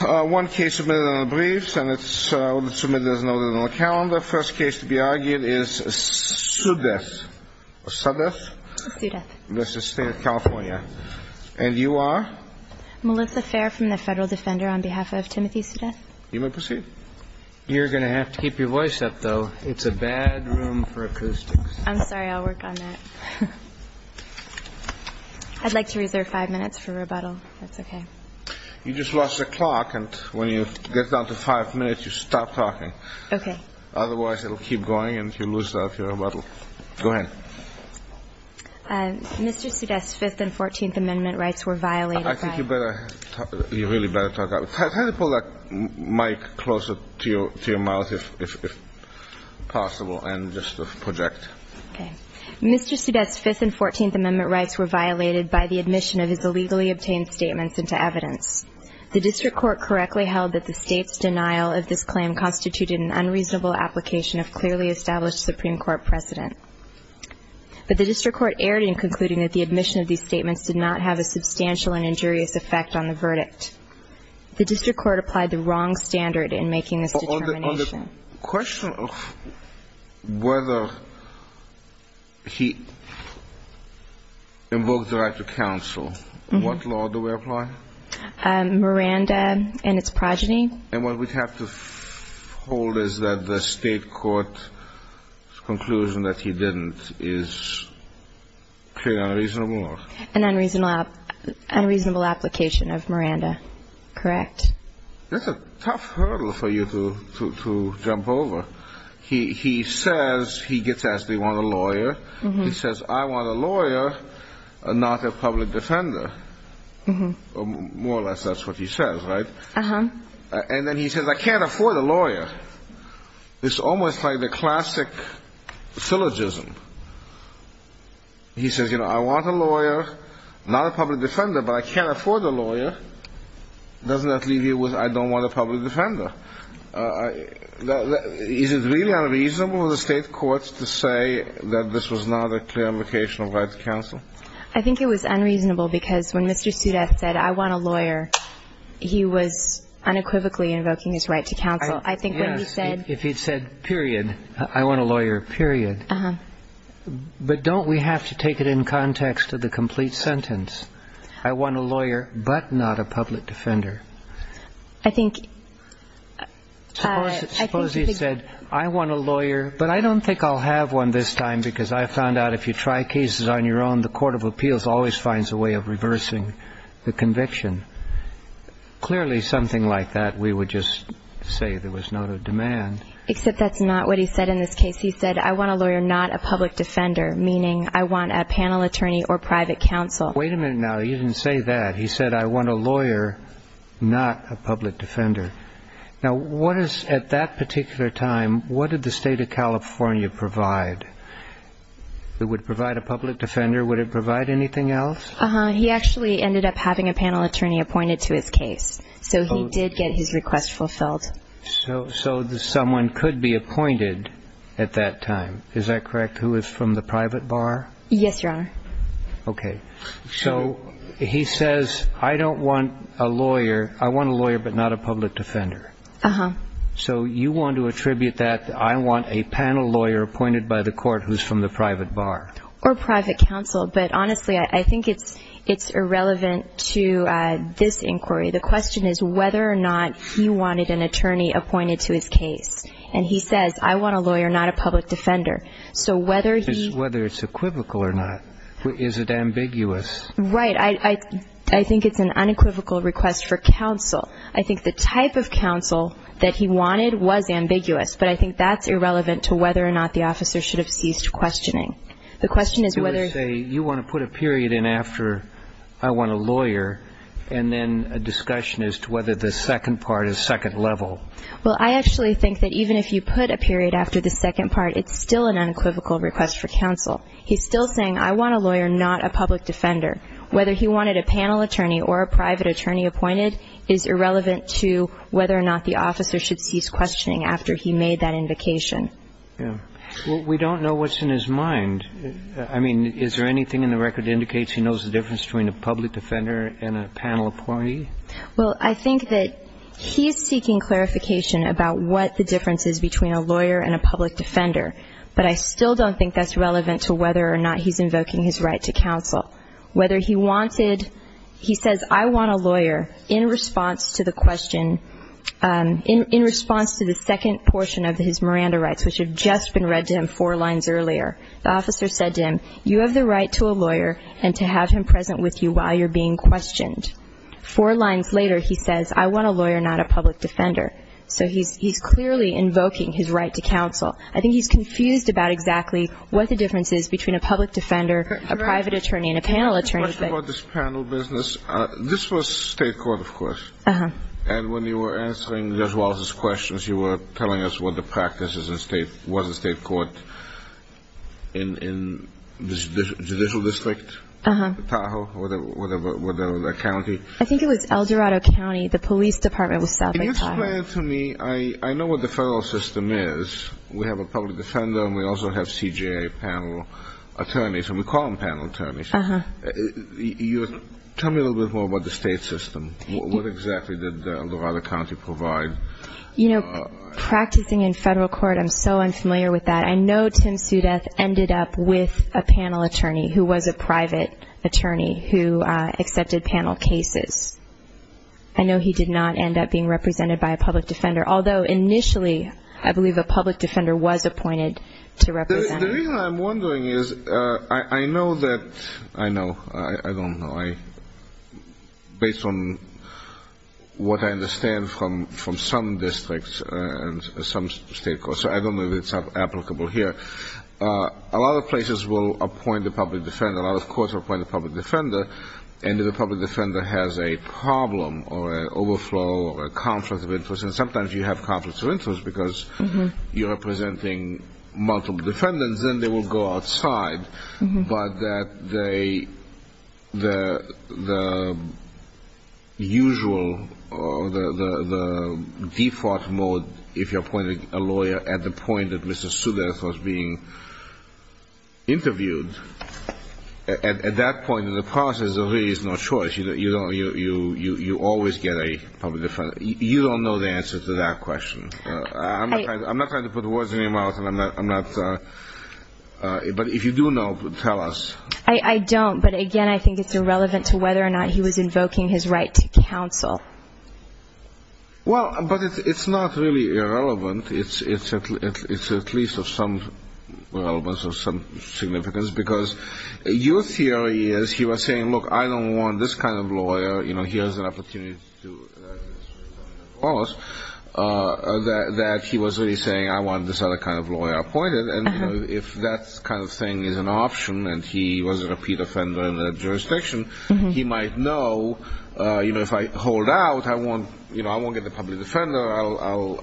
One case submitted on the briefs and it's submitted as noted on the calendar. First case to be argued is Suddeth. Suddeth? Suddeth. That's the State of California. And you are? Melissa Fair from the Federal Defender on behalf of Timothy Suddeth. You may proceed. You're going to have to keep your voice up, though. It's a bad room for acoustics. I'm sorry. I'll work on that. I'd like to reserve five minutes for rebuttal, if that's okay. You just lost the clock. And when you get down to five minutes, you stop talking. Okay. Otherwise, it'll keep going and you'll lose out your rebuttal. Go ahead. Mr. Suddeth's Fifth and Fourteenth Amendment rights were violated by... I think you really better talk up. Try to pull that mic closer to your mouth, if possible, and just project. Okay. Mr. Suddeth's Fifth and Fourteenth Amendment rights were violated by the admission of his illegally obtained statements into evidence. The district court correctly held that the State's denial of this claim constituted an unreasonable application of clearly established Supreme Court precedent. But the district court erred in concluding that the admission of these statements did not have a substantial and injurious effect on the verdict. The district court applied the wrong standard in making this determination. On the question of whether he invoked the right to counsel, what law do we apply? Miranda and its progeny. And what we have to hold is that the state court's conclusion that he didn't is clearly unreasonable? An unreasonable application of Miranda. Correct. That's a tough hurdle for you to jump over. He says, he gets asked, do you want a lawyer? He says, I want a lawyer, not a public defender. More or less that's what he says, right? And then he says, I can't afford a lawyer. It's almost like the classic syllogism. He says, you know, I want a lawyer, not a public defender, but I can't afford a lawyer. Doesn't that leave you with, I don't want a public defender? Is it really unreasonable of the state courts to say that this was not a clear application of right to counsel? I think it was unreasonable because when Mr. Sudeth said, I want a lawyer, he was unequivocally invoking his right to counsel. I think when he said. If he'd said, period, I want a lawyer, period. But don't we have to take it in context of the complete sentence? I want a lawyer, but not a public defender. I think. Suppose he said, I want a lawyer, but I don't think I'll have one this time because I found out if you try cases on your own, the Court of Appeals always finds a way of reversing the conviction. Clearly, something like that, we would just say there was not a demand. Except that's not what he said in this case. He said, I want a lawyer, not a public defender, meaning I want a panel attorney or private counsel. Wait a minute now. You didn't say that. He said, I want a lawyer, not a public defender. Now, what is at that particular time, what did the State of California provide? It would provide a public defender. Would it provide anything else? He actually ended up having a panel attorney appointed to his case. So he did get his request fulfilled. So someone could be appointed at that time. Is that correct? Who is from the private bar? Yes, Your Honor. Okay. So he says, I don't want a lawyer. I want a lawyer, but not a public defender. Uh-huh. So you want to attribute that, I want a panel lawyer appointed by the court who is from the private bar. Or private counsel. But honestly, I think it's irrelevant to this inquiry. The question is whether or not he wanted an attorney appointed to his case. And he says, I want a lawyer, not a public defender. So whether he. Whether it's equivocal or not. Is it ambiguous? Right. I think it's an unequivocal request for counsel. I think the type of counsel that he wanted was ambiguous. But I think that's irrelevant to whether or not the officer should have ceased questioning. The question is whether. You want to put a period in after, I want a lawyer. And then a discussion as to whether the second part is second level. Well, I actually think that even if you put a period after the second part, it's still an unequivocal request for counsel. He's still saying, I want a lawyer, not a public defender. Whether he wanted a panel attorney or a private attorney appointed is irrelevant to whether or not the officer should cease questioning after he made that indication. Yeah. Well, we don't know what's in his mind. I mean, is there anything in the record that indicates he knows the difference between a public defender and a panel appointee? Well, I think that he's seeking clarification about what the difference is between a lawyer and a public defender. But I still don't think that's relevant to whether or not he's invoking his right to counsel. Whether he wanted, he says, I want a lawyer in response to the question, in response to the second portion of his Miranda rights, which had just been read to him four lines earlier. The officer said to him, you have the right to a lawyer and to have him present with you while you're being questioned. Four lines later, he says, I want a lawyer, not a public defender. So he's clearly invoking his right to counsel. I think he's confused about exactly what the difference is between a public defender, a private attorney, and a panel attorney. I have a question about this panel business. This was state court, of course. Uh-huh. And when you were answering Judge Wallace's questions, you were telling us what the practice was in state court in the judicial district? Uh-huh. I think it was El Dorado County. The police department was south of Tahoe. Can you explain it to me? I know what the federal system is. We have a public defender and we also have CJA panel attorneys, and we call them panel attorneys. Uh-huh. Tell me a little bit more about the state system. What exactly did El Dorado County provide? You know, practicing in federal court, I'm so unfamiliar with that. I know Tim Sudeth ended up with a panel attorney who was a private attorney who accepted panel cases. I know he did not end up being represented by a public defender, although initially I believe a public defender was appointed to represent him. The reason I'm wondering is I know that, I know, I don't know, based on what I understand from some districts and some state courts, I don't know if it's applicable here, a lot of places will appoint a public defender, a lot of courts will appoint a public defender, and if a public defender has a problem or an overflow or a conflict of interest, and sometimes you have conflicts of interest because you're representing multiple defendants, then they will go outside. But the usual, the default mode, if you're appointing a lawyer at the point that Mr. Sudeth was being interviewed, at that point in the process, there really is no choice. You always get a public defender. You don't know the answer to that question. I'm not trying to put words in your mouth. I'm not, but if you do know, tell us. I don't, but, again, I think it's irrelevant to whether or not he was invoking his right to counsel. Well, but it's not really irrelevant. It's at least of some relevance or some significance because your theory is he was saying, look, I don't want this kind of lawyer. You know, he has an opportunity to do this. That he was really saying, I want this other kind of lawyer appointed, and if that kind of thing is an option and he was a repeat offender in that jurisdiction, he might know, you know, if I hold out, I won't get the public defender.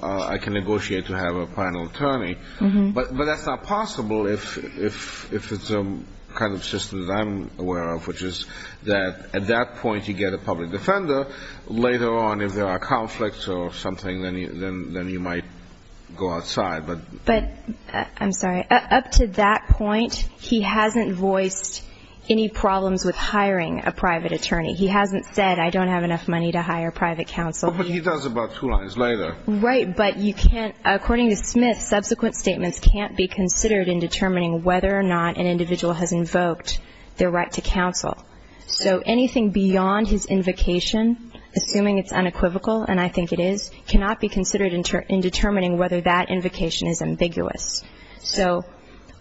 I can negotiate to have a final attorney. But that's not possible if it's a kind of system that I'm aware of, which is that at that point you get a public defender. Later on, if there are conflicts or something, then you might go outside. But I'm sorry. Up to that point, he hasn't voiced any problems with hiring a private attorney. He hasn't said, I don't have enough money to hire private counsel. But he does about two lines later. Right, but you can't, according to Smith, subsequent statements can't be considered in determining whether or not an individual has invoked their right to counsel. So anything beyond his invocation, assuming it's unequivocal, and I think it is, cannot be considered in determining whether that invocation is ambiguous. So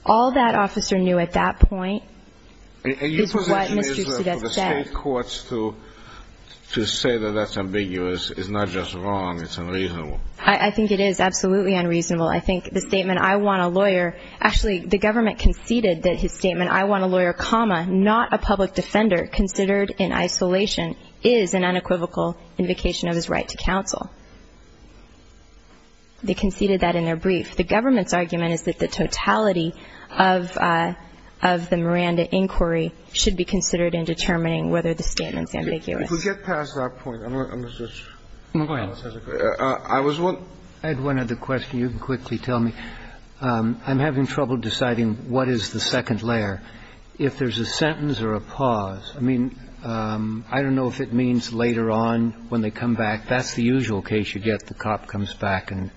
all that officer knew at that point is what Mr. Sudett said. And your position is that for the state courts to say that that's ambiguous is not just wrong, it's unreasonable. I think it is absolutely unreasonable. I think the statement, I want a lawyer, actually the government conceded that his statement, I want a lawyer, comma, not a public defender, considered in isolation is an unequivocal invocation of his right to counsel. They conceded that in their brief. The government's argument is that the totality of the Miranda inquiry should be considered in determining whether the statement is ambiguous. If we get past that point, I'm going to switch. Go ahead. I had one other question. You can quickly tell me. I'm having trouble deciding what is the second layer, if there's a sentence or a pause. I mean, I don't know if it means later on when they come back. That's the usual case. You get the cop comes back and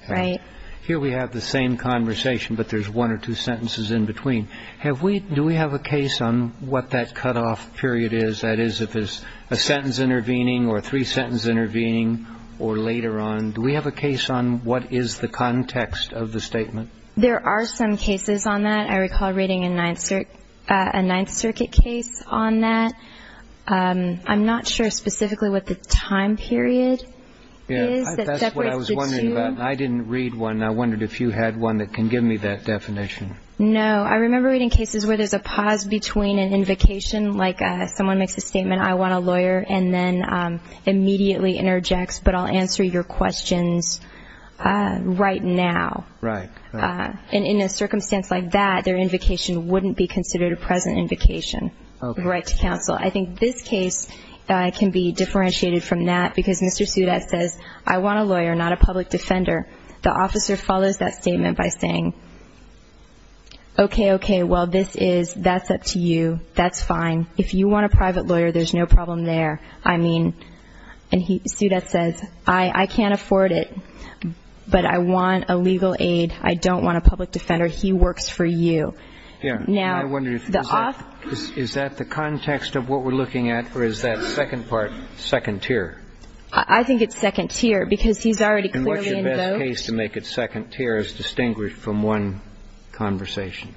here we have the same conversation, but there's one or two sentences in between. Have we do we have a case on what that cutoff period is? That is, if there's a sentence intervening or three sentences intervening or later on, do we have a case on what is the context of the statement? There are some cases on that. I recall reading a Ninth Circuit case on that. I'm not sure specifically what the time period is. That's what I was wondering about. I didn't read one. I wondered if you had one that can give me that definition. No. I remember reading cases where there's a pause between an invocation, like someone makes a statement, I want a lawyer, and then immediately interjects, but I'll answer your questions right now. Right. And in a circumstance like that, their invocation wouldn't be considered a present invocation of a right to counsel. I think this case can be differentiated from that because Mr. Sudat says, I want a lawyer, not a public defender. The officer follows that statement by saying, okay, okay, well, this is up to you. That's fine. If you want a private lawyer, there's no problem there. I mean, and Sudat says, I can't afford it, but I want a legal aid. I don't want a public defender. He works for you. Now, the off ---- Is that the context of what we're looking at, or is that second part second tier? I think it's second tier because he's already clearly invoked ---- And what's the best case to make it second tier as distinguished from one conversation?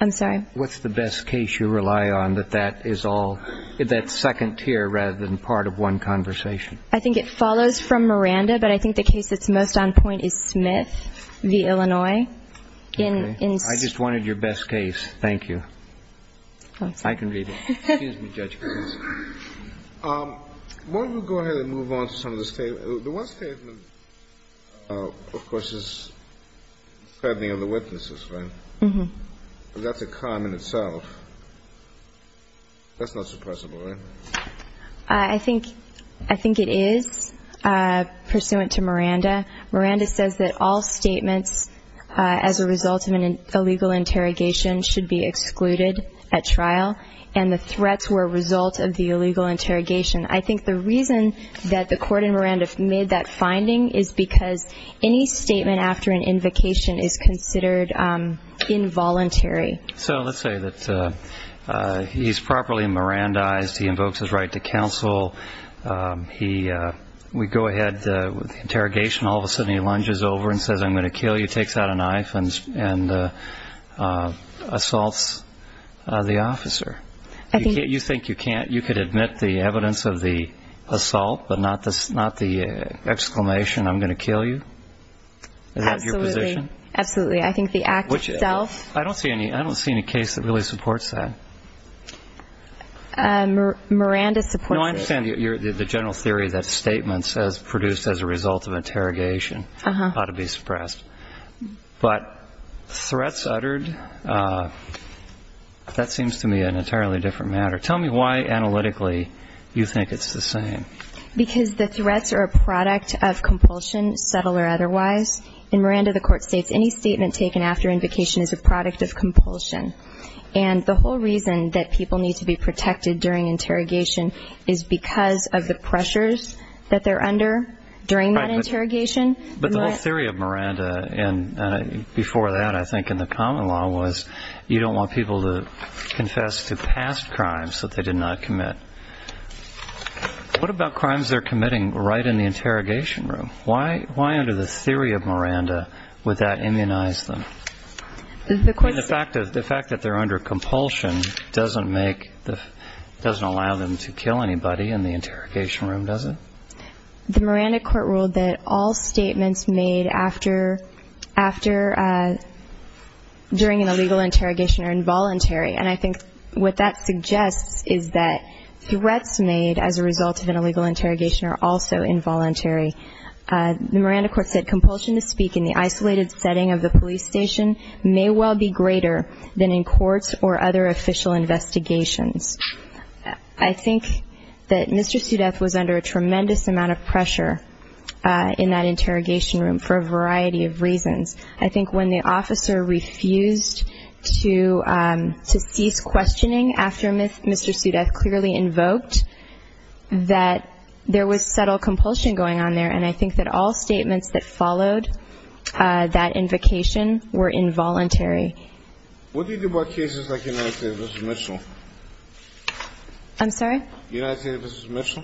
I'm sorry? What's the best case you rely on that that is all ---- that's second tier rather than part of one conversation? I think it follows from Miranda, but I think the case that's most on point is Smith v. Illinois. Okay. I just wanted your best case. Thank you. I can read it. Excuse me, Judge. Why don't we go ahead and move on to some of the statements? The one statement, of course, is threatening of the witnesses, right? Mm-hmm. That's a crime in itself. That's not suppressible, right? I think it is, pursuant to Miranda. Miranda says that all statements as a result of an illegal interrogation should be excluded at trial, and the threats were a result of the illegal interrogation. I think the reason that the court in Miranda made that finding is because any statement after an invocation is considered involuntary. So let's say that he's properly Mirandized. He invokes his right to counsel. We go ahead with the interrogation. All of a sudden he lunges over and says, I'm going to kill you, takes out a knife and assaults the officer. You think you can't? You could admit the evidence of the assault, but not the exclamation, I'm going to kill you? Absolutely. Is that your position? Absolutely. I think the act itself. I don't see any case that really supports that. Miranda supports it. No, I understand the general theory that statements produced as a result of interrogation ought to be suppressed. But threats uttered, that seems to me an entirely different matter. Tell me why analytically you think it's the same. Because the threats are a product of compulsion, subtle or otherwise. In Miranda, the court states any statement taken after invocation is a product of compulsion. And the whole reason that people need to be protected during interrogation is because of the pressures that they're under during that interrogation. But the whole theory of Miranda, and before that I think in the common law, was you don't want people to confess to past crimes that they did not commit. What about crimes they're committing right in the interrogation room? Why under the theory of Miranda would that immunize them? The fact that they're under compulsion doesn't allow them to kill anybody in the interrogation room, does it? The Miranda court ruled that all statements made during an illegal interrogation are involuntary. And I think what that suggests is that threats made as a result of an illegal interrogation are also involuntary. The Miranda court said compulsion to speak in the isolated setting of the police station may well be greater than in courts or other official investigations. I think that Mr. Sudeth was under a tremendous amount of pressure in that interrogation room for a variety of reasons. I think when the officer refused to cease questioning after Mr. Sudeth clearly invoked, that there was subtle compulsion going on there, and I think that all statements that followed that invocation were involuntary. What do you do about cases like United States v. Mitchell? I'm sorry? United States v. Mitchell,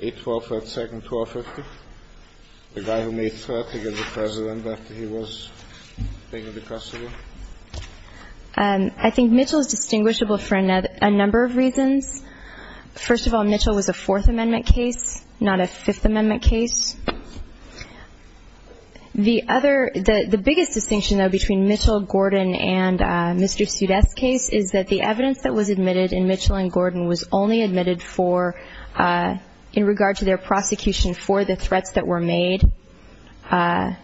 8-12, 3rd, 2nd, 1250? The guy who made threats against the president after he was taken to custody? I think Mitchell is distinguishable for a number of reasons. First of all, Mitchell was a Fourth Amendment case, not a Fifth Amendment case. The biggest distinction, though, between Mitchell, Gordon, and Mr. Sudeth's case is that the evidence that was admitted in Mitchell and Gordon was only admitted for, in regard to their prosecution for the threats that were made. How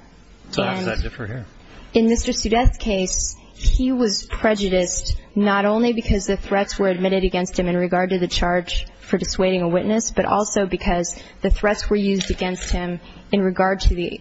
does that differ here? In Mr. Sudeth's case, he was prejudiced not only because the threats were admitted against him in regard to the charge for dissuading a witness, but also because the threats were used against him in regard to the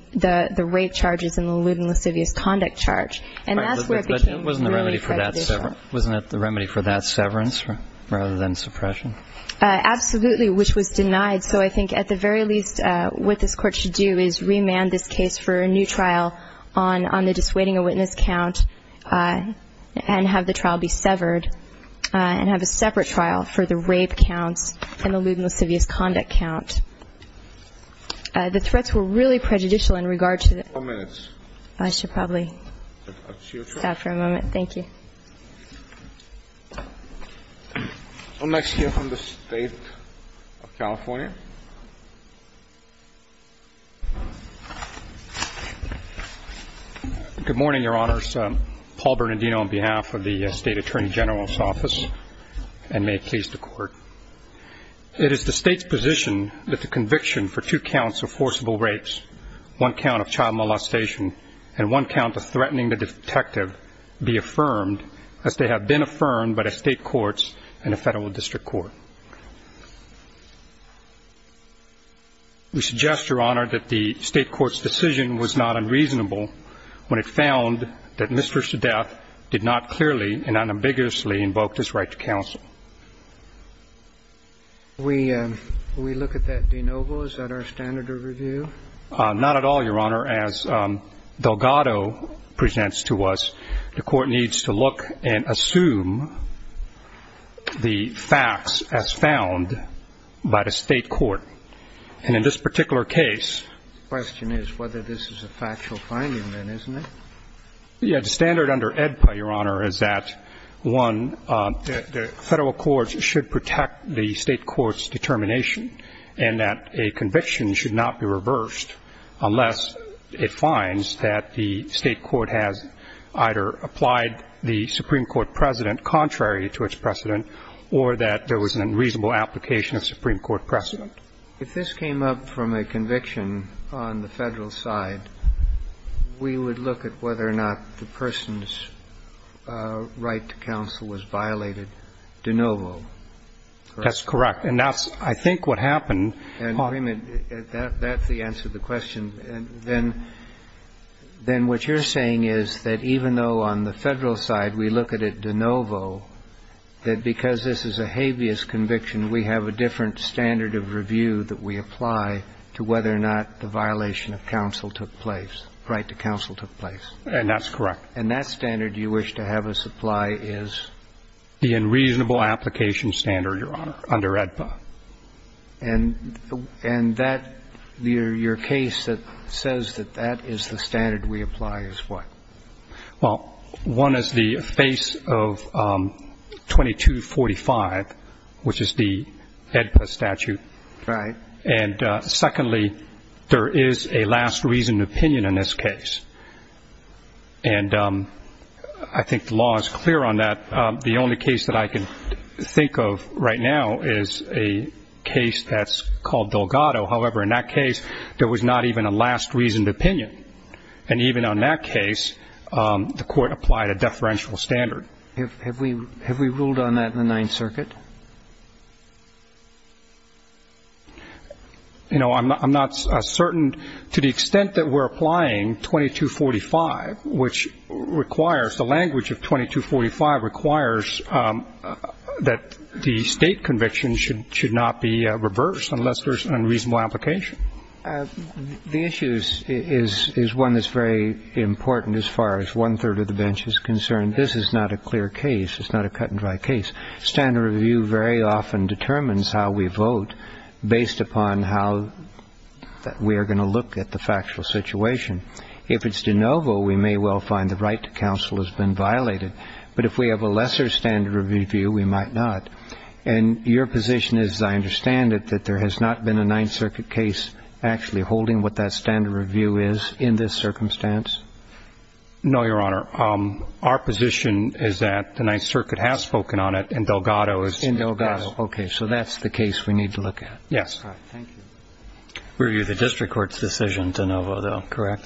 rape charges and the lewd and lascivious conduct charge. And that's where it became really prejudicial. Wasn't it the remedy for that severance rather than suppression? Absolutely, which was denied. So I think at the very least what this Court should do is remand this case for a new trial on the dissuading a witness count and have the trial be severed and have a separate trial for the rape counts and the lewd and lascivious conduct count. The threats were really prejudicial in regard to the ---- Four minutes. I should probably stop for a moment. Thank you. We'll next hear from the State of California. Good morning, Your Honors. Paul Bernardino on behalf of the State Attorney General's Office, and may it please the Court. It is the State's position that the conviction for two counts of forcible rapes, one count of child molestation, and one count of threatening the detective be affirmed as they have been affirmed by the State courts and the Federal District Court. We suggest, Your Honor, that the State court's decision was not unreasonable when it found that Mr. Sudeth did not clearly and unambiguously invoke this right to counsel. Will we look at that de novo? Is that our standard of review? Not at all, Your Honor. As Delgado presents to us, the Court needs to look and assume the facts as found by the State court. And in this particular case ---- The question is whether this is a factual finding, then, isn't it? Yes. The standard under AEDPA, Your Honor, is that, one, the Federal courts should protect the State court's determination and that a conviction should not be reversed unless it finds that the State court has either applied the Supreme Court precedent contrary to its precedent or that there was an unreasonable application of Supreme Court precedent. If this came up from a conviction on the Federal side, we would look at whether or not the person's right to counsel was violated de novo, correct? That's correct. And that's, I think, what happened on ---- And, agreement, that's the answer to the question. And then what you're saying is that even though on the Federal side we look at it de novo, that because this is a habeas conviction, we have a different standard of review that we apply to whether or not the violation of counsel took place, right to counsel took place. And that's correct. And that standard you wish to have us apply is? The unreasonable application standard, Your Honor, under AEDPA. And that, your case that says that that is the standard we apply is what? Well, one is the face of 2245, which is the AEDPA statute. Right. And secondly, there is a last reasoned opinion in this case. And I think the law is clear on that. The only case that I can think of right now is a case that's called Delgado. However, in that case, there was not even a last reasoned opinion. And even on that case, the Court applied a deferential standard. Have we ruled on that in the Ninth Circuit? You know, I'm not certain. To the extent that we're applying 2245, which requires, the language of 2245 requires that the State conviction should not be reversed unless there's an unreasonable application. The issue is one that's very important as far as one-third of the bench is concerned. This is not a clear case. It's not a cut-and-dry case. Standard review very often determines how we vote based upon how we are going to look at the factual situation. If it's de novo, we may well find the right to counsel has been violated. But if we have a lesser standard review, we might not. And your position is, as I understand it, that there has not been a Ninth Circuit case actually holding what that standard review is in this circumstance? No, Your Honor. Our position is that the Ninth Circuit has spoken on it, and Delgado has not. In Delgado. Okay. So that's the case we need to look at. Yes. All right. Thank you. Review the district court's decision de novo, though. Correct.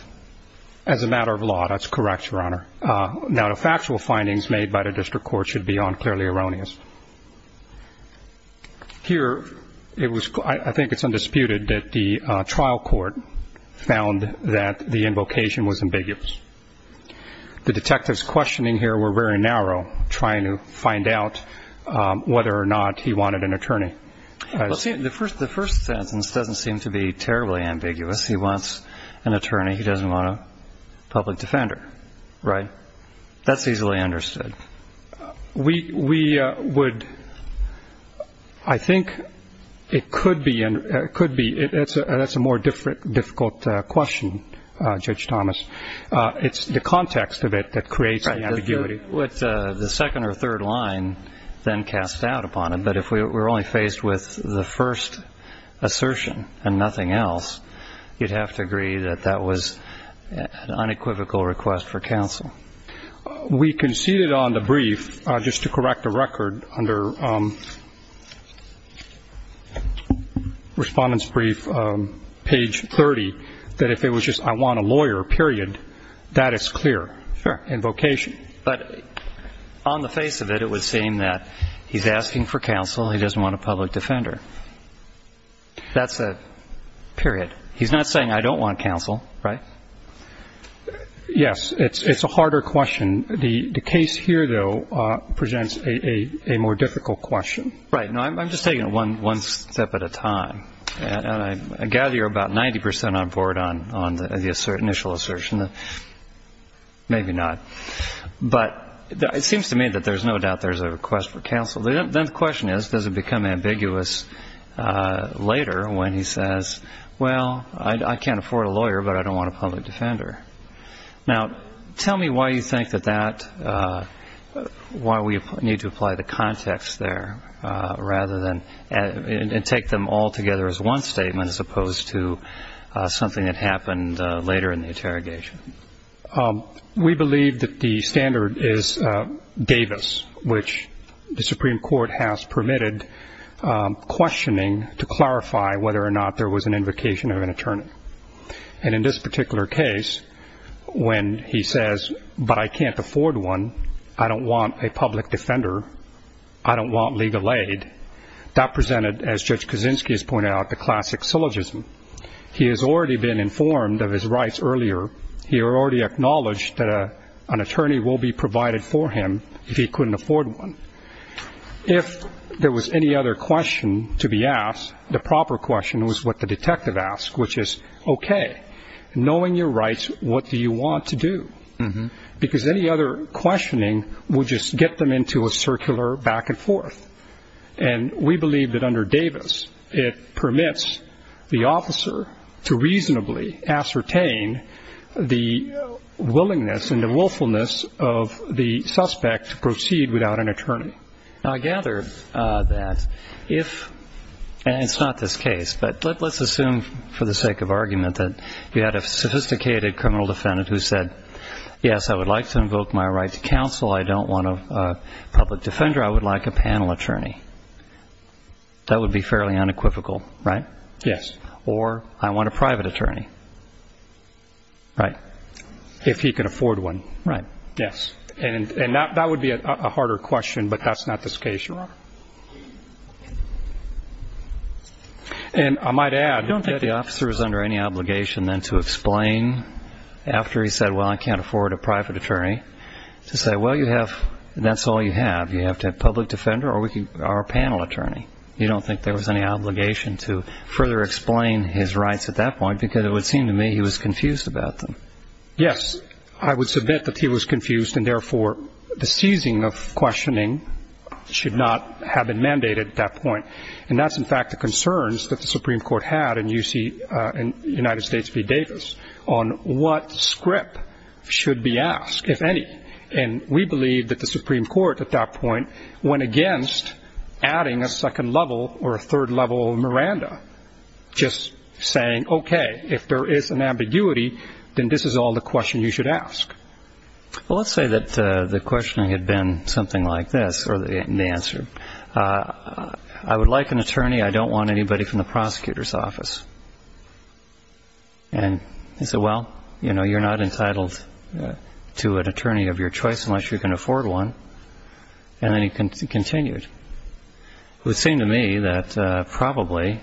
As a matter of law, that's correct, Your Honor. Now, the factual findings made by the district court should be unclearly erroneous. Here, it was – I think it's undisputed that the trial court found that the invocation was ambiguous. The detectives questioning here were very narrow, trying to find out whether or not he wanted an attorney. The first sentence doesn't seem to be terribly ambiguous. He wants an attorney. He doesn't want a public defender. Right? That's easily understood. We would – I think it could be – that's a more difficult question, Judge Thomas. It's the context of it that creates the ambiguity. Right. The second or third line then casts doubt upon it. But if we're only faced with the first assertion and nothing else, you'd have to agree that that was an unequivocal request for counsel. We conceded on the brief, just to correct the record, under Respondent's Brief, page 30, that if it was just, I want a lawyer, period, that is clear. Sure. Invocation. But on the face of it, it would seem that he's asking for counsel. He doesn't want a public defender. That's a period. He's not saying, I don't want counsel, right? Yes. It's a harder question. The case here, though, presents a more difficult question. Right. I'm just taking it one step at a time. And I gather you're about 90 percent on board on the initial assertion. Maybe not. But it seems to me that there's no doubt there's a request for counsel. Then the question is, does it become ambiguous later when he says, well, I can't afford a lawyer, but I don't want a public defender? Now, tell me why you think that that, why we need to apply the context there, rather than take them all together as one statement, as opposed to something that happened later in the interrogation. We believe that the standard is Davis, which the Supreme Court has permitted questioning to clarify whether or not there was an invocation of an attorney. And in this particular case, when he says, but I can't afford one, I don't want a public defender, I don't want legal aid, that presented, as Judge Kaczynski has pointed out, the classic syllogism. He has already been informed of his rights earlier. He already acknowledged that an attorney will be provided for him if he couldn't afford one. If there was any other question to be asked, the proper question was what the detective asked, which is, okay, knowing your rights, what do you want to do? Because any other questioning would just get them into a circular back and forth. And we believe that under Davis it permits the officer to reasonably ascertain the willingness and the willfulness of the suspect to proceed without an attorney. Now, I gather that if, and it's not this case, but let's assume for the sake of argument that you had a sophisticated criminal defendant who said, yes, I would like to invoke my right to counsel. I don't want a public defender. I would like a panel attorney. That would be fairly unequivocal, right? Yes. Or I want a private attorney, right, if he could afford one. Right. Yes. And that would be a harder question, but that's not this case, Your Honor. And I might add. I don't think the officer is under any obligation then to explain after he said, well, I can't afford a private attorney, to say, well, you have, that's all you have. You have to have a public defender or a panel attorney. You don't think there was any obligation to further explain his rights at that point because it would seem to me he was confused about them. Yes. Because I would submit that he was confused and therefore the seizing of questioning should not have been mandated at that point. And that's, in fact, the concerns that the Supreme Court had in United States v. Davis on what script should be asked, if any. And we believe that the Supreme Court at that point went against adding a second level or a third level Miranda, just saying, okay, if there is an ambiguity, then this is all the question you should ask. Well, let's say that the questioning had been something like this, or the answer. I would like an attorney. I don't want anybody from the prosecutor's office. And he said, well, you know, you're not entitled to an attorney of your choice unless you can afford one. And then he continued. It would seem to me that probably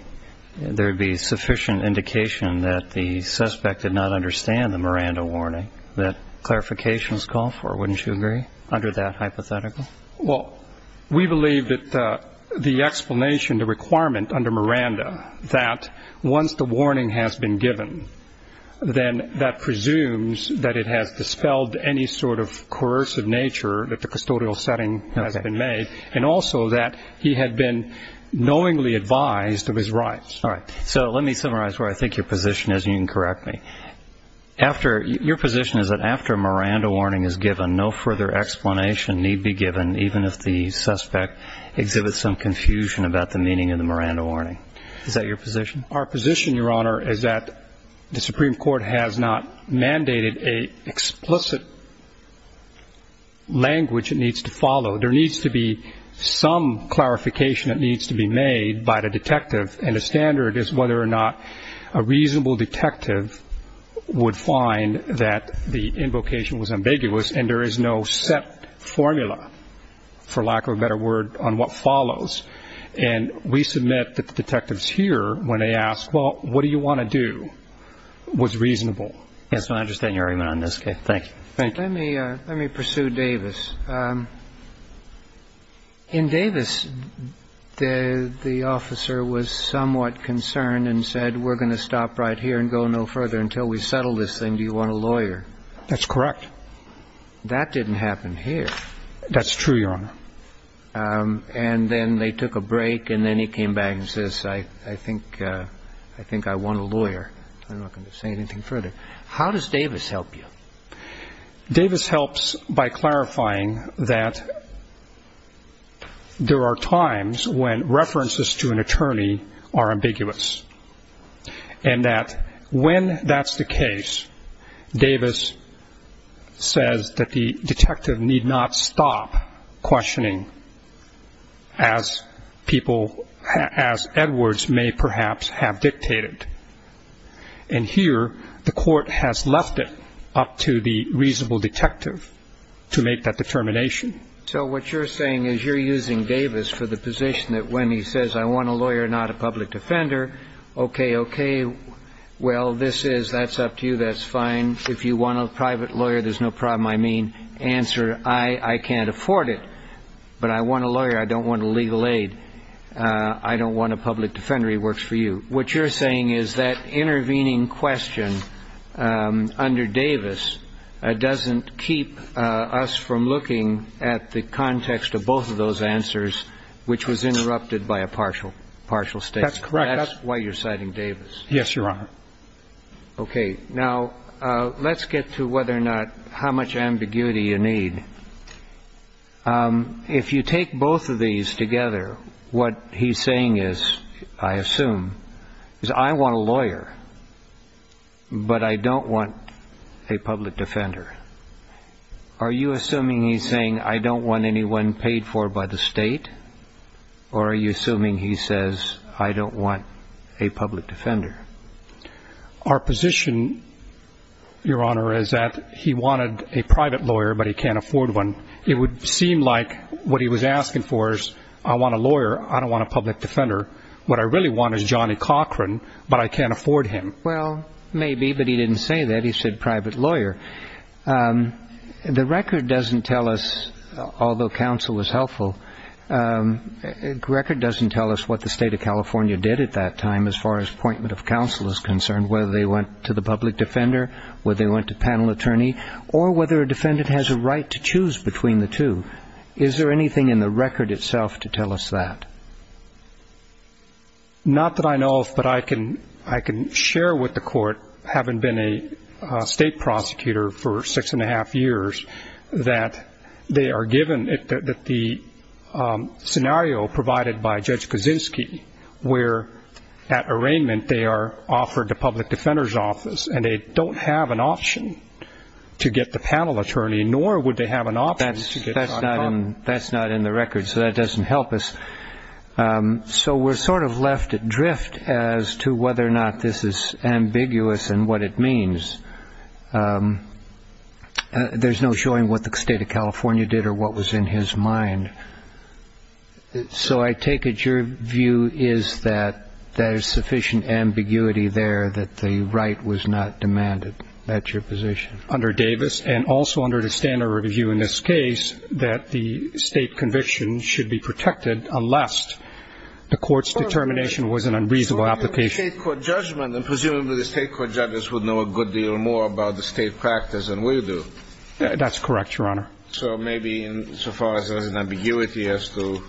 there would be sufficient indication that the suspect did not understand the Miranda warning that clarifications call for, wouldn't you agree, under that hypothetical? Well, we believe that the explanation, the requirement under Miranda, that once the warning has been given, then that presumes that it has dispelled any sort of coercive nature that the custodial setting has been made, and also that he had been knowingly advised of his rights. All right. So let me summarize where I think your position is, and you can correct me. Your position is that after a Miranda warning is given, no further explanation need be given, even if the suspect exhibits some confusion about the meaning of the Miranda warning. Is that your position? Our position, Your Honor, is that the Supreme Court has not mandated an explicit language it needs to follow. There needs to be some clarification that needs to be made by the detective and a standard is whether or not a reasonable detective would find that the invocation was ambiguous and there is no set formula, for lack of a better word, on what follows. And we submit that the detectives here, when they ask, well, what do you want to do, was reasonable. Yes, Your Honor. I understand your argument on this case. Thank you. Thank you. Let me pursue Davis. In Davis, the officer was somewhat concerned and said, we're going to stop right here and go no further until we settle this thing. Do you want a lawyer? That's correct. That didn't happen here. That's true, Your Honor. And then they took a break and then he came back and says, I think I want a lawyer. I'm not going to say anything further. How does Davis help you? Davis helps by clarifying that there are times when references to an attorney are ambiguous and that when that's the case, Davis says that the detective need not stop questioning as people, as Edwards may perhaps have dictated. And here, the court has left it up to the reasonable detective to make that determination. So what you're saying is you're using Davis for the position that when he says, I want a lawyer, not a public defender, okay, okay, well, this is, that's up to you, that's fine. If you want a private lawyer, there's no problem, I mean. Answer, I can't afford it, but I want a lawyer. I don't want legal aid. I don't want a public defender. He works for you. What you're saying is that intervening question under Davis doesn't keep us from looking at the context of both of those answers, which was interrupted by a partial, partial statement. That's correct. That's why you're citing Davis. Yes, Your Honor. Okay. Now, let's get to whether or not, how much ambiguity you need. If you take both of these together, what he's saying is, I assume, is I want a lawyer, but I don't want a public defender. Are you assuming he's saying I don't want anyone paid for by the state? Or are you assuming he says I don't want a public defender? Our position, Your Honor, is that he wanted a private lawyer, but he can't afford one. It would seem like what he was asking for is I want a lawyer, I don't want a public defender. What I really want is Johnny Cochran, but I can't afford him. Well, maybe, but he didn't say that. He said private lawyer. The record doesn't tell us, although counsel was helpful, the record doesn't tell us what the State of California did at that time as far as appointment of counsel is concerned, whether they went to the public defender, whether they went to panel attorney, or whether a defendant has a right to choose between the two. Is there anything in the record itself to tell us that? Not that I know of, but I can share with the Court, having been a state prosecutor for six and a half years, that they are given the scenario provided by Judge Kaczynski, where at arraignment they are offered the public defender's office, and they don't have an option to get the panel attorney, nor would they have an option to get Johnny Cochran. That's not in the record, so that doesn't help us. So we're sort of left adrift as to whether or not this is ambiguous in what it means. There's no showing what the State of California did or what was in his mind. So I take it your view is that there's sufficient ambiguity there that the right was not demanded. That's your position. Under Davis, and also under the standard review in this case, that the state conviction should be protected unless the court's determination was an unreasonable application. And presumably the state court judges would know a good deal more about the state practice than we do. That's correct, Your Honor. So maybe insofar as there's an ambiguity as to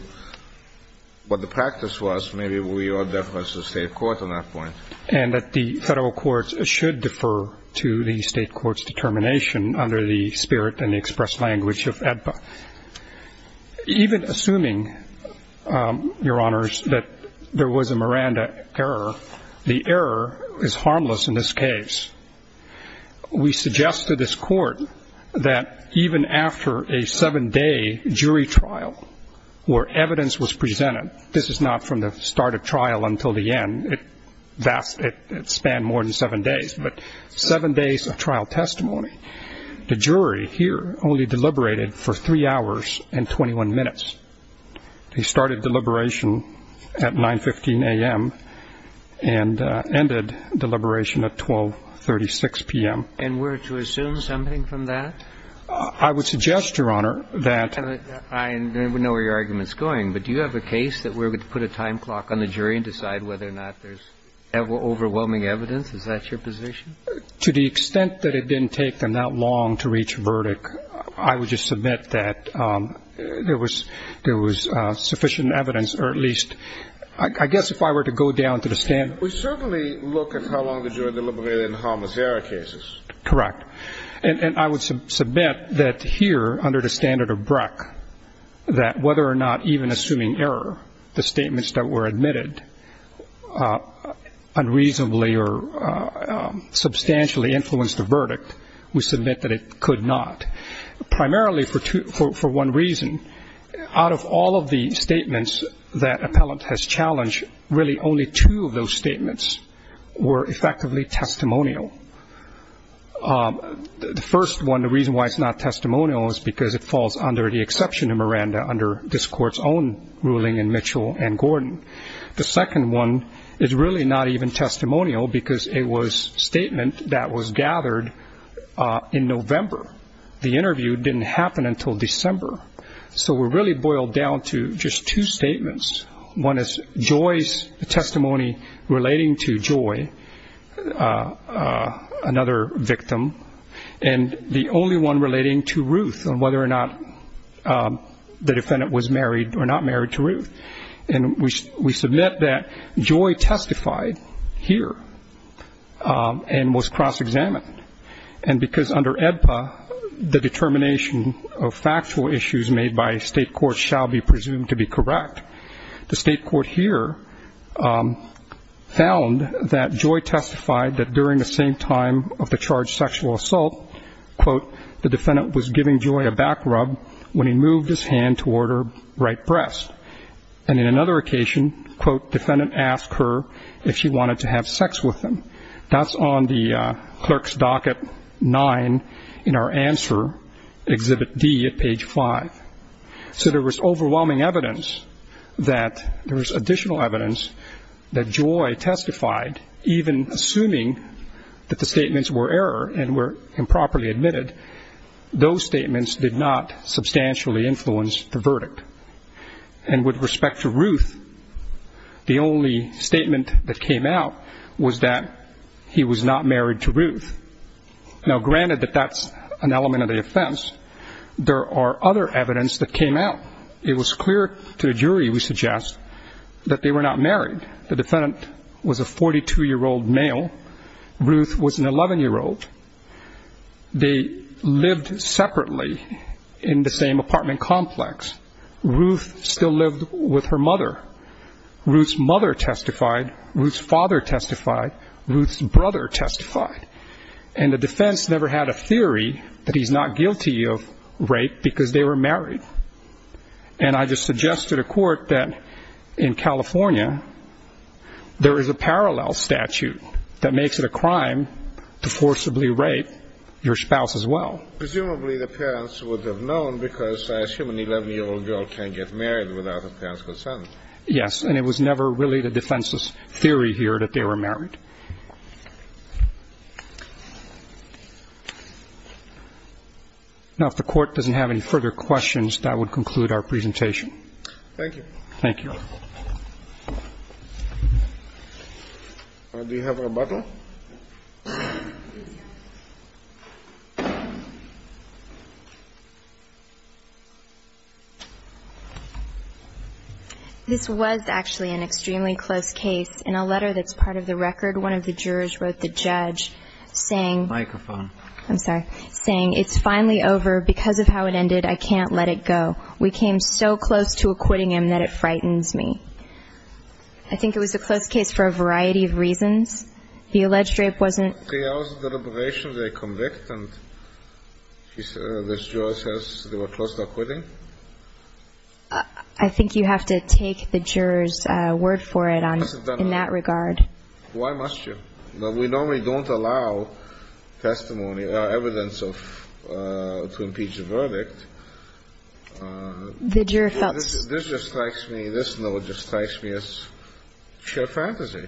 what the practice was, maybe we ought to defer to the state court on that point. And that the federal courts should defer to the state court's determination under the spirit and the expressed language of AEDPA. Even assuming, Your Honors, that there was a Miranda error, the error is harmless in this case. We suggest to this court that even after a seven-day jury trial where evidence was presented, this is not from the start of trial until the end, it spanned more than seven days, but seven days of trial testimony, the jury here only deliberated for three hours and 21 minutes. They started deliberation at 9.15 a.m. and ended deliberation at 12.36 p.m. And were to assume something from that? I would suggest, Your Honor, that... I don't know where your argument is going, but do you have a case that we're going to put a time clock on the jury and decide whether or not there's overwhelming evidence? Is that your position? To the extent that it didn't take them that long to reach a verdict, I would just submit that there was sufficient evidence, or at least... I guess if I were to go down to the standard... We certainly look at how long the jury deliberated in harmless error cases. Correct. And I would submit that here, under the standard of Breck, that whether or not even assuming error, the statements that were admitted unreasonably or substantially influenced the verdict, we submit that it could not, primarily for one reason. Out of all of the statements that appellant has challenged, really only two of those statements were effectively testimonial. The first one, the reason why it's not testimonial, is because it falls under the exception of Miranda under this Court's own ruling in Mitchell and Gordon. The second one is really not even testimonial because it was a statement that was gathered in November. The interview didn't happen until December. So we're really boiled down to just two statements. One is Joy's testimony relating to Joy, another victim, and the only one relating to Ruth on whether or not the defendant was married or not married to Ruth. And we submit that Joy testified here and was cross-examined. And because under AEDPA the determination of factual issues made by a state court shall be presumed to be correct, the state court here found that Joy testified that during the same time of the charged sexual assault, quote, the defendant was giving Joy a back rub when he moved his hand toward her right breast. And in another occasion, quote, defendant asked her if she wanted to have sex with him. That's on the clerk's docket 9 in our answer, Exhibit D at page 5. So there was overwhelming evidence that there was additional evidence that Joy testified, even assuming that the statements were error and were improperly admitted. Those statements did not substantially influence the verdict. And with respect to Ruth, the only statement that came out was that he was not married to Ruth. Now, granted that that's an element of the offense, there are other evidence that came out. It was clear to the jury, we suggest, that they were not married. The defendant was a 42-year-old male. Ruth was an 11-year-old. They lived separately in the same apartment complex. Ruth still lived with her mother. Ruth's mother testified. Ruth's father testified. Ruth's brother testified. And the defense never had a theory that he's not guilty of rape because they were married. And I just suggest to the court that in California, there is a parallel statute that makes it a crime to forcibly rape your spouse as well. Presumably, the parents would have known because I assume an 11-year-old girl can't get married without her parents' consent. Yes, and it was never really the defense's theory here that they were married. Now, if the court doesn't have any further questions, that would conclude our presentation. Thank you. Thank you. Do you have a rebuttal? This was actually an extremely close case. In a letter that's part of the record, one of the jurors wrote the judge saying, Microphone. I'm sorry, saying, It's finally over. Because of how it ended, I can't let it go. We came so close to acquitting him that it frightens me. I think it was a close case for a variety of reasons. The alleged rape wasn't Three hours of deliberation, they convict, and this juror says they were close to acquitting? I think you have to take the juror's word for it in that regard. Why must you? We normally don't allow testimony or evidence to impeach a verdict. The juror felt This just strikes me, this note just strikes me as sheer fantasy.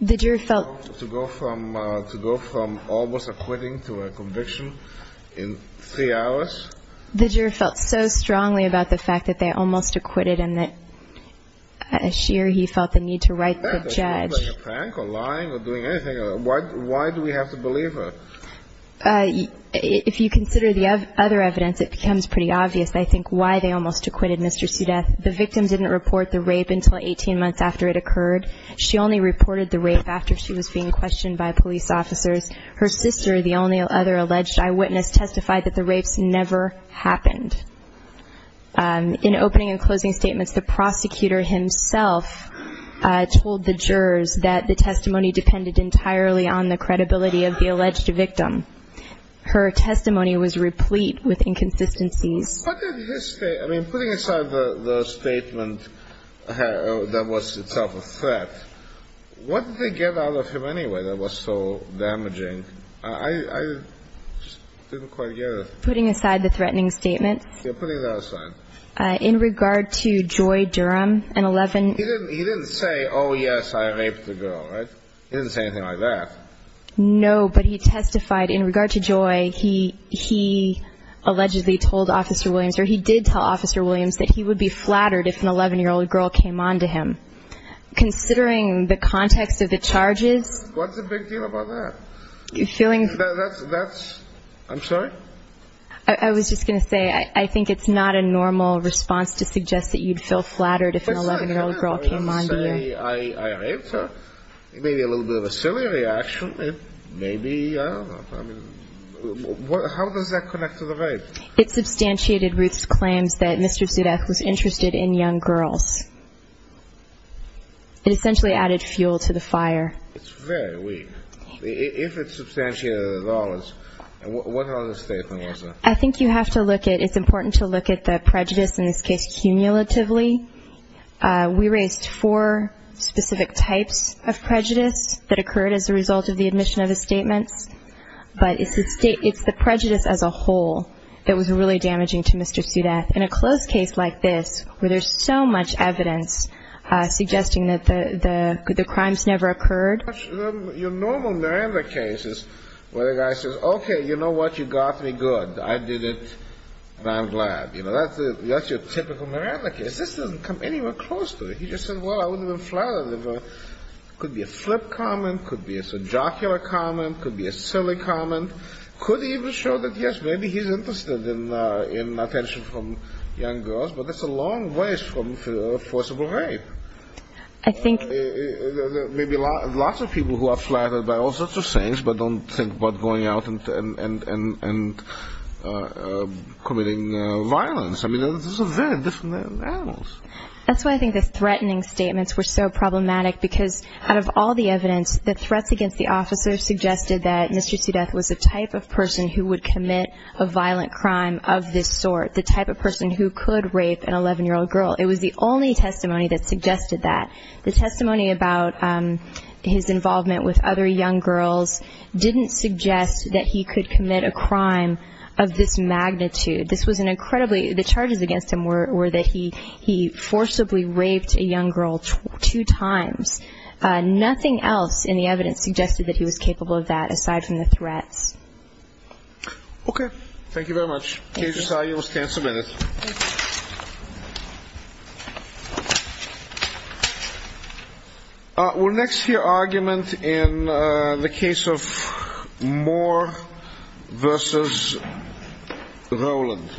The juror felt To go from almost acquitting to a conviction in three hours? The juror felt so strongly about the fact that they almost acquitted him that As sheer, he felt the need to write the judge. That doesn't mean being a prank or lying or doing anything. Why do we have to believe her? If you consider the other evidence, it becomes pretty obvious, I think, why they almost acquitted Mr. Sudeth. The victim didn't report the rape until 18 months after it occurred. She only reported the rape after she was being questioned by police officers. Her sister, the only other alleged eyewitness, testified that the rapes never happened. In opening and closing statements, the prosecutor himself told the jurors that the testimony depended entirely on the credibility of the alleged victim. Her testimony was replete with inconsistencies. I mean, putting aside the statement that was itself a threat, what did they get out of him anyway that was so damaging? I just didn't quite get it. Putting aside the threatening statement? Yeah, putting that aside. In regard to Joy Durham, an 11- He didn't say, oh, yes, I raped the girl, right? He didn't say anything like that. No, but he testified in regard to Joy, he allegedly told Officer Williams, or he did tell Officer Williams, that he would be flattered if an 11-year-old girl came on to him. Considering the context of the charges- What's the big deal about that? That's- I'm sorry? I was just going to say, I think it's not a normal response to suggest that you'd feel flattered if an 11-year-old girl came on to you. I mean, I raped her. It may be a little bit of a silly reaction. It may be, I don't know. I mean, how does that connect to the rape? It substantiated Ruth's claims that Mr. Zudek was interested in young girls. It essentially added fuel to the fire. It's very weak. If it substantiated it at all, what other statement was there? I think you have to look at- It's important to look at the prejudice, in this case, cumulatively. We raised four specific types of prejudice that occurred as a result of the admission of his statements. But it's the prejudice as a whole that was really damaging to Mr. Zudek. In a close case like this, where there's so much evidence suggesting that the crimes never occurred- Your normal Miranda cases, where the guy says, Okay, you know what, you got me good. I did it, and I'm glad. You know, that's your typical Miranda case. This doesn't come anywhere close to it. He just said, Well, I wouldn't have been flattered. It could be a flip comment. It could be a subjocular comment. It could be a silly comment. It could even show that, yes, maybe he's interested in attention from young girls, but that's a long ways from forcible rape. I think- There may be lots of people who are flattered by all sorts of things, but don't think about going out and committing violence. I mean, those are very different animals. That's why I think the threatening statements were so problematic, because out of all the evidence, the threats against the officer suggested that Mr. Zudek was the type of person who would commit a violent crime of this sort, the type of person who could rape an 11-year-old girl. It was the only testimony that suggested that. The testimony about his involvement with other young girls didn't suggest that he could commit a crime of this magnitude. This was an incredibly-the charges against him were that he forcibly raped a young girl two times. Nothing else in the evidence suggested that he was capable of that aside from the threats. Okay. Thank you very much. Thank you. KJ, you will stand for a minute. Thank you. We'll next hear argument in the case of Moore v. Rowland.